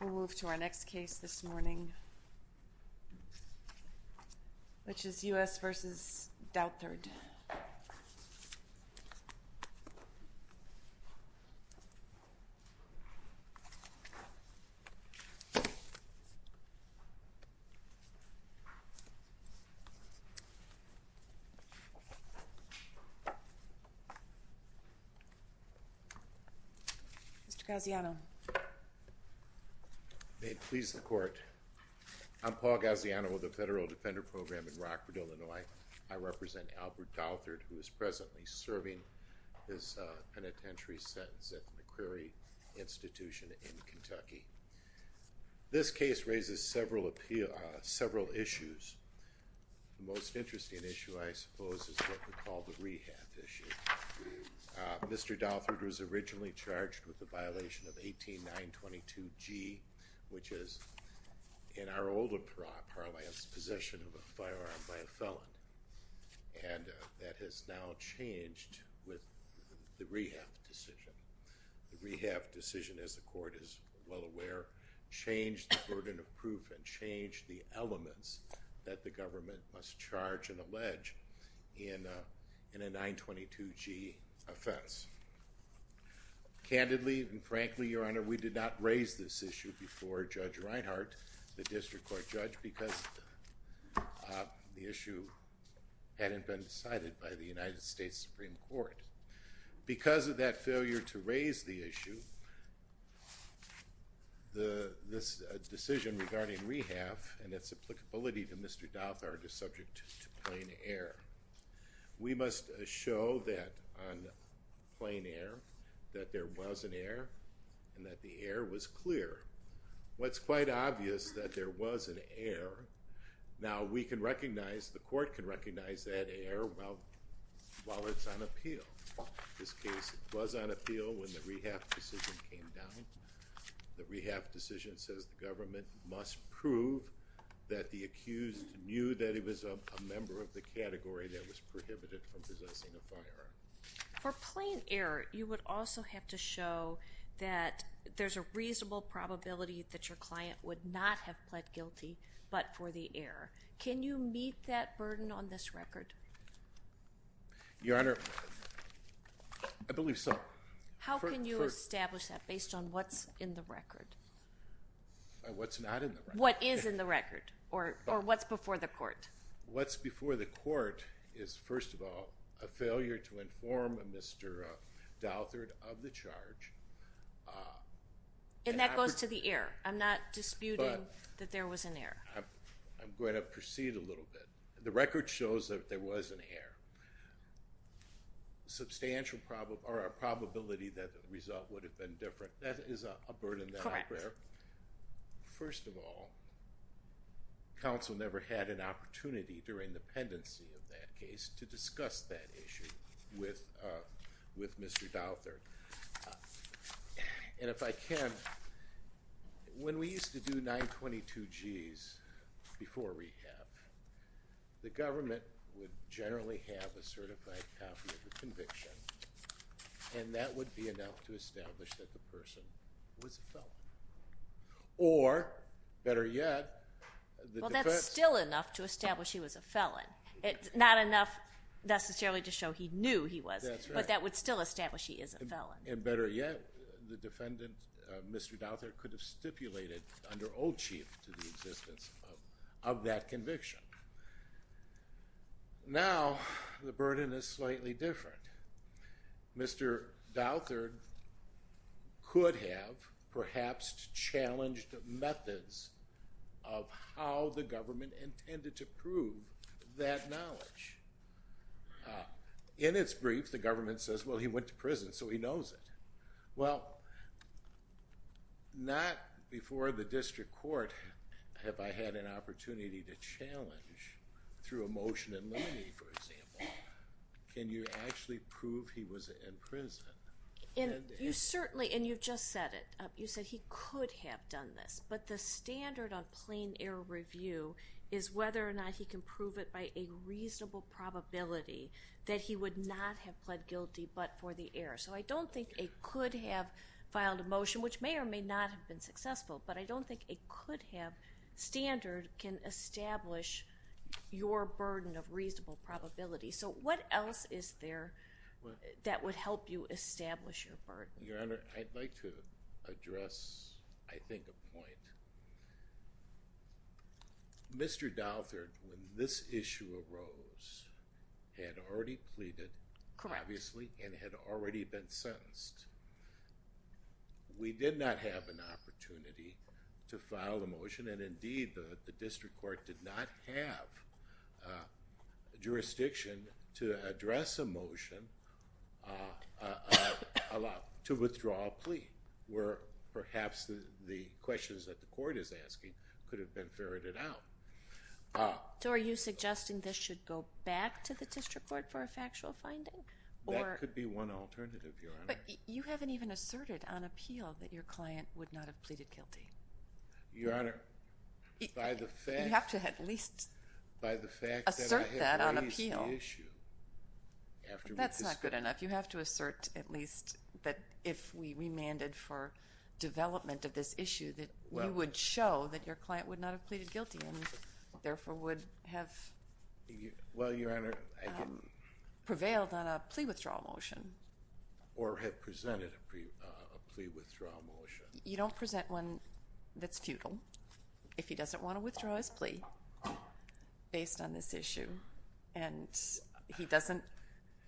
We'll move to our next case this morning, which is U.S. v. Dowthard. Mr. Gaziano May it please the Court, I'm Paul Gaziano with the Federal Defender Program in Rockford, Illinois. I represent Albert Dowthard who is presently serving his penitentiary sentence at the McCreary Institution in Kentucky. This case raises several issues. The most interesting issue I suppose is what we call the rehab issue. Mr. Dowthard was originally charged with the violation of 18922G, which is in our older parlance possession of a firearm by a felon. And that has now changed with the rehab decision. The rehab decision, as the Court is well aware, changed the burden of proof and changed the elements that the government must charge and allege in a 922G offense. Candidly and frankly, Your Honor, we did not raise this issue before Judge Reinhart, the district court judge, because the issue hadn't been decided by the United States Supreme Court. Because of that failure to raise the issue, this decision regarding rehab and its applicability to Mr. Dowthard is subject to plain error. We must show that on plain error that there was an error and that the error was clear. What's quite obvious is that there was an error. Now we can recognize, the Court can recognize that error while it's on appeal. In this case, it was on appeal when the rehab decision came down. The rehab decision says the government must prove that the accused knew that he was a member of the category that was prohibited from possessing a firearm. For plain error, you would also have to show that there's a reasonable probability that your client would not have pled guilty but for the error. Can you meet that burden on this record? Your Honor, I believe so. How can you establish that based on what's in the record? What's not in the record. What is in the record or what's before the Court? What's before the Court is, first of all, a failure to inform Mr. Dowthard of the charge. And that goes to the error. I'm not disputing that there was an error. I'm going to proceed a little bit. The record shows that there was an error. Substantial probability that the result would have been different. That is a burden that I bear. First of all, counsel never had an opportunity during the pendency of that case to discuss that issue with Mr. Dowthard. And if I can, when we used to do 922Gs before rehab, the government would generally have a certified copy of the conviction. And that would be enough to establish that the person was a felon. Or, better yet, the defense... Well, that's still enough to establish he was a felon. It's not enough necessarily to show he knew he was. That's right. But that would still establish he is a felon. And better yet, the defendant, Mr. Dowthard, could have stipulated under old chief to the existence of that conviction. Now, the burden is slightly different. Mr. Dowthard could have perhaps challenged methods of how the government intended to prove that knowledge. In its brief, the government says, well, he went to prison, so he knows it. Well, not before the district court have I had an opportunity to challenge through a motion in limine, for example, can you actually prove he was in prison. And you certainly, and you just said it, you said he could have done this. But the standard of plain error review is whether or not he can prove it by a reasonable probability that he would not have pled guilty but for the error. So I don't think a could have filed a motion, which may or may not have been successful, but I don't think a could have standard can establish your burden of reasonable probability. So what else is there that would help you establish your burden? Your Honor, I'd like to address, I think, a point. Mr. Dowthard, when this issue arose, had already pleaded, obviously, and had already been sentenced. We did not have an opportunity to file a motion, and indeed, the district court did not have jurisdiction to address a motion to withdraw a plea. Perhaps the questions that the court is asking could have been ferreted out. So are you suggesting this should go back to the district court for a factual finding? That could be one alternative, Your Honor. But you haven't even asserted on appeal that your client would not have pleaded guilty. Your Honor, by the fact... You have to at least assert that on appeal. That's not good enough. You have to assert at least that if we remanded for development of this issue that you would show that your client would not have pleaded guilty and therefore would have prevailed on a plea withdrawal motion. Or have presented a plea withdrawal motion. You don't present one that's futile if he doesn't want to withdraw his plea based on this issue. And he doesn't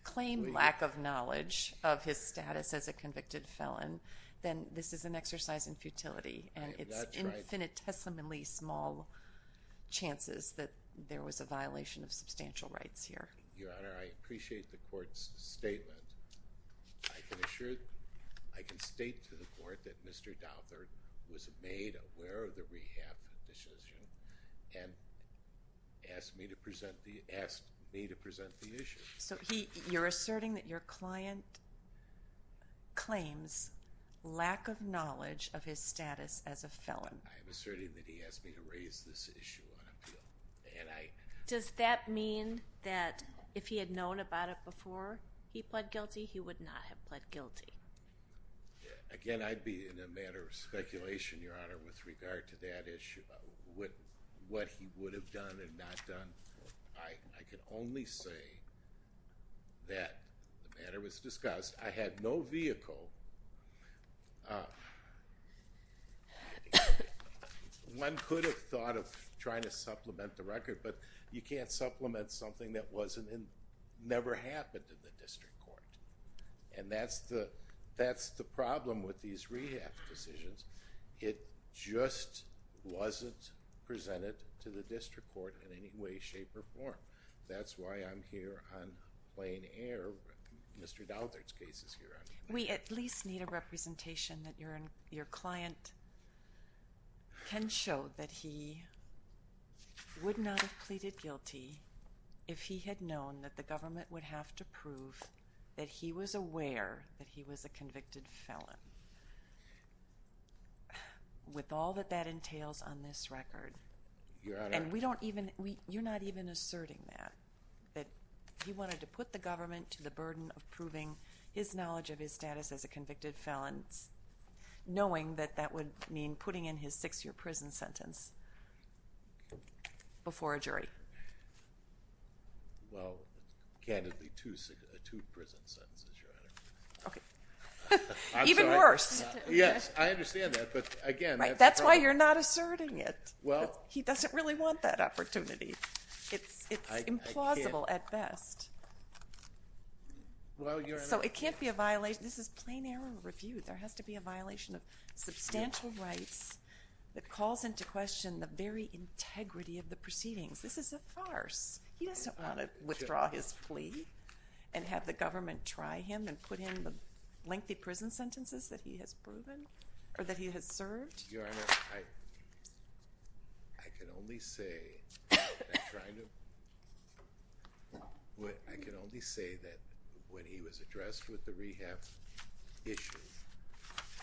claim lack of knowledge of his status as a convicted felon, then this is an exercise in futility. And it's infinitesimally small chances that there was a violation of substantial rights here. Your Honor, I appreciate the court's statement. I can state to the court that Mr. Dowther was made aware of the rehab decision and asked me to present the issue. So you're asserting that your client claims lack of knowledge of his status as a felon. I'm asserting that he asked me to raise this issue on appeal. Does that mean that if he had known about it before he pled guilty, he would not have pled guilty? Again, I'd be in a matter of speculation, Your Honor, with regard to that issue. What he would have done and not done. I can only say that the matter was discussed. I had no vehicle. One could have thought of trying to supplement the record, but you can't supplement something that never happened in the district court. And that's the problem with these rehab decisions. It just wasn't presented to the district court in any way, shape, or form. That's why I'm here on plain air with Mr. Dowther's case. We at least need a representation that your client can show that he would not have pleaded guilty if he had known that the government would have to prove that he was aware that he was a convicted felon. With all that that entails on this record. And you're not even asserting that. That he wanted to put the government to the burden of proving his knowledge of his status as a convicted felon, knowing that that would mean putting in his six-year prison sentence before a jury. Well, candidly, two prison sentences, Your Honor. Even worse. Yes, I understand that. That's why you're not asserting it. He doesn't really want that opportunity. It's implausible at best. So it can't be a violation. This is plain error review. There has to be a violation of substantial rights that calls into question the very integrity of the proceedings. This is a farce. He doesn't want to withdraw his plea and have the government try him and put in the lengthy prison sentences that he has served. Your Honor, I can only say that when he was addressed with the rehab issue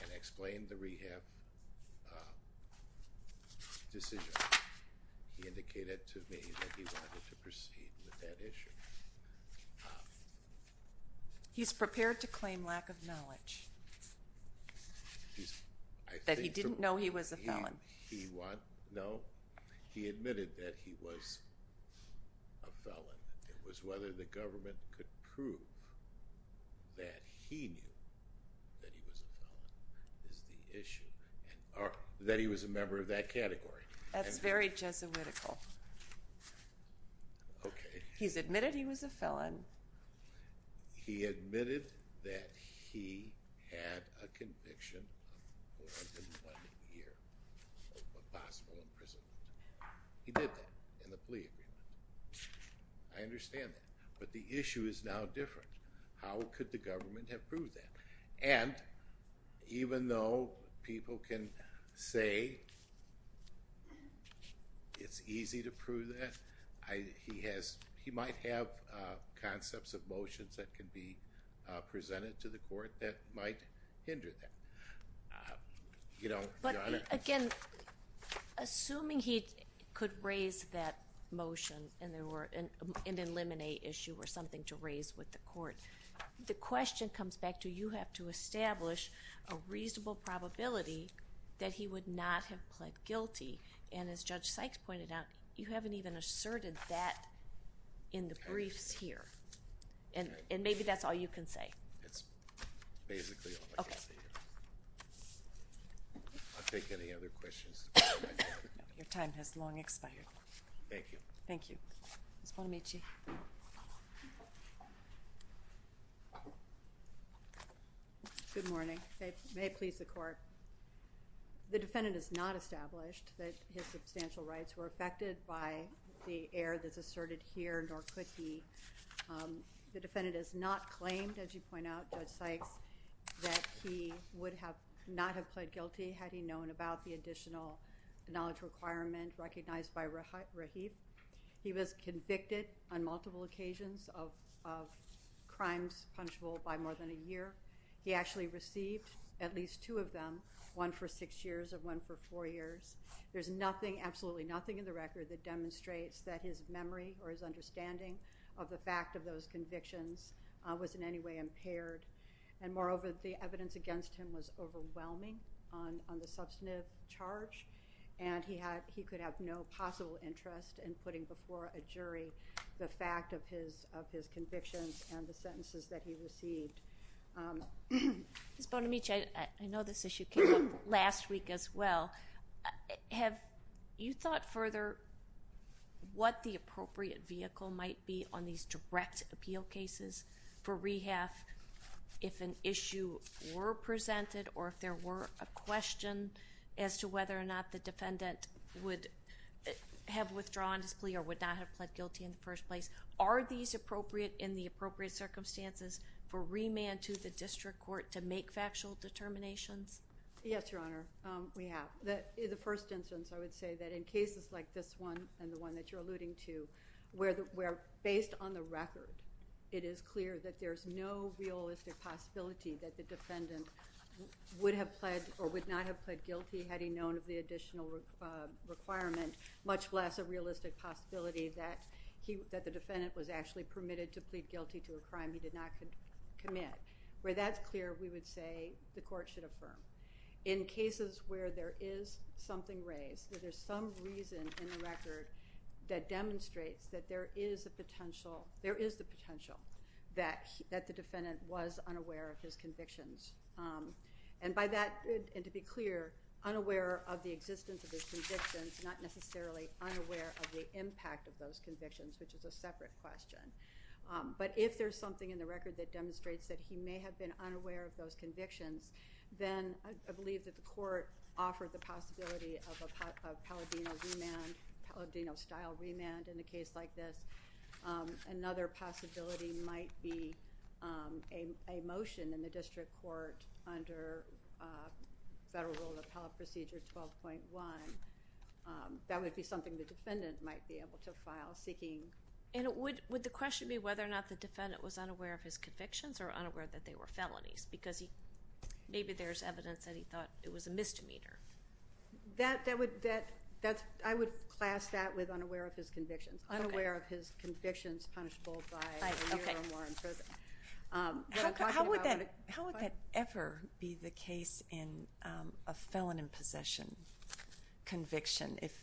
and explained the rehab decision, he indicated to me that he wanted to proceed with that issue. He's prepared to claim lack of knowledge. That he didn't know he was a felon. No, he admitted that he was a felon. It was whether the government could prove that he knew that he was a felon is the issue, or that he was a member of that category. That's very Jesuitical. Okay. He's admitted he was a felon. He admitted that he had a conviction of more than one year of possible imprisonment. He did that in the plea agreement. I understand that. But the issue is now different. How could the government have proved that? And even though people can say it's easy to prove that, he might have concepts of motions that can be presented to the court that might hinder that. You know, Your Honor. But again, assuming he could raise that motion and eliminate issue or something to raise with the court, the question comes back to you have to establish a reasonable probability that he would not have pled guilty. And as Judge Sykes pointed out, you haven't even asserted that in the briefs here. And maybe that's all you can say. That's basically all I can say. Okay. I'll take any other questions. Your time has long expired. Thank you. Thank you. Ms. Bonamici. Good morning. May it please the court. The defendant has not established that his substantial rights were affected by the error that's asserted here, nor could he. The defendant has not claimed, as you point out, Judge Sykes, that he would have not have pled guilty He was convicted on multiple occasions of crimes punishable by more than a year. He actually received at least two of them, one for six years and one for four years. There's nothing, absolutely nothing in the record that demonstrates that his memory or his understanding of the fact of those convictions was in any way impaired. And moreover, the evidence against him was overwhelming on the substantive charge. And he could have no possible interest in putting before a jury the fact of his convictions and the sentences that he received. Ms. Bonamici, I know this issue came up last week as well. Have you thought further what the appropriate vehicle might be on these direct appeal cases for rehab if an issue were presented or if there were a question as to whether or not the defendant would have withdrawn his plea or would not have pled guilty in the first place? Are these appropriate in the appropriate circumstances for remand to the district court to make factual determinations? Yes, Your Honor, we have. The first instance, I would say that in cases like this one and the one that you're alluding to, where based on the record, it is clear that there's no realistic possibility that the defendant would have pled or would not have pled guilty had he known of the additional requirement, much less a realistic possibility that the defendant was actually permitted to plead guilty to a crime he did not commit. Where that's clear, we would say the court should affirm. In cases where there is something raised, where there's some reason in the record that demonstrates that there is a potential, there is the potential that the defendant was unaware of his convictions. And by that, and to be clear, unaware of the existence of his convictions, not necessarily unaware of the impact of those convictions, which is a separate question. But if there's something in the record that demonstrates that he may have been unaware of those convictions, then I believe that the court offered the possibility of a Palladino remand, Palladino-style remand in a case like this. Another possibility might be a motion in the district court under Federal Rule of Appellate Procedure 12.1. That would be something the defendant might be able to file seeking... And would the question be whether or not the defendant was unaware of his convictions or unaware that they were felonies? Because maybe there's evidence that he thought it was a misdemeanor. I would class that with unaware of his convictions. Unaware of his convictions punishable by a year or more in prison. How would that ever be the case in a felon in possession conviction? If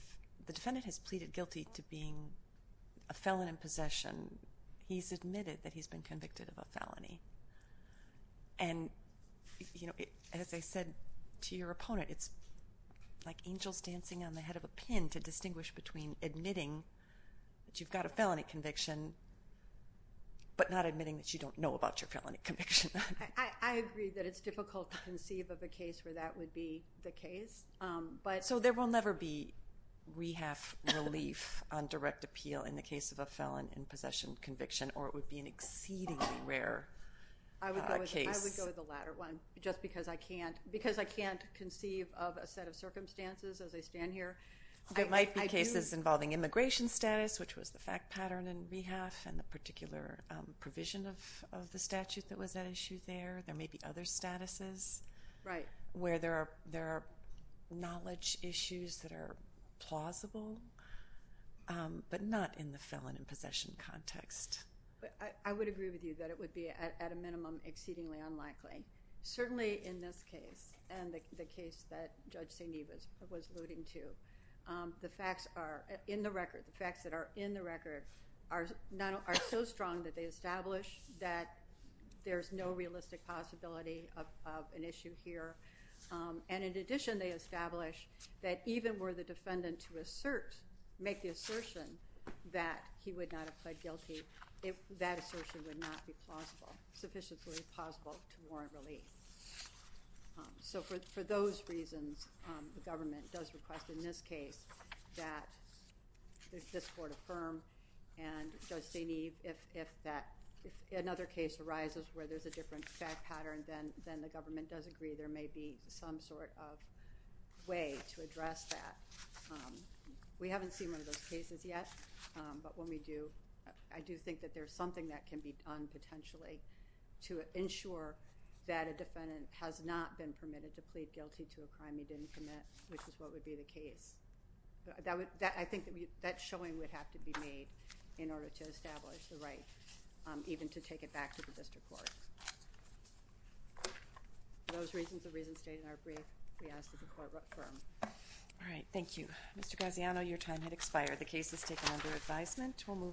the defendant has pleaded guilty to being a felon in possession, he's admitted that he's been convicted of a felony. And as I said to your opponent, it's like angels dancing on the head of a pin to distinguish between admitting that you've got a felony conviction, but not admitting that you don't know about your felony conviction. I agree that it's difficult to conceive of a case where that would be the case. So there will never be rehab relief on direct appeal in the case of a felon in possession conviction, or it would be an exceedingly rare case? I would go with the latter one, just because I can't conceive of a set of circumstances as I stand here. There might be cases involving immigration status, which was the fact pattern in rehab, and the particular provision of the statute that was at issue there. There may be other statuses where there are knowledge issues that are plausible, but not in the felon in possession context. I would agree with you that it would be, at a minimum, exceedingly unlikely. Certainly in this case, and the case that Judge St. Neve was alluding to, the facts that are in the record are so strong that they establish that there's no realistic possibility of an issue here. And in addition, they establish that even were the defendant to assert, make the assertion that he would not have pled guilty, that assertion would not be sufficiently plausible to warrant relief. So for those reasons, the government does request in this case that this court affirm, and Judge St. Neve, if another case arises where there's a different fact pattern, then the government does agree there may be some sort of way to address that. We haven't seen one of those cases yet, but when we do, I do think that there's something that can be done, potentially, to ensure that a defendant has not been permitted to plead guilty to a crime he didn't commit, which is what would be the case. I think that showing would have to be made in order to establish the right, even to take it back to the district court. For those reasons, the reasons stated in our brief, we ask that the court affirm. All right, thank you. Mr. Graziano, your time has expired. The case is taken under advisement.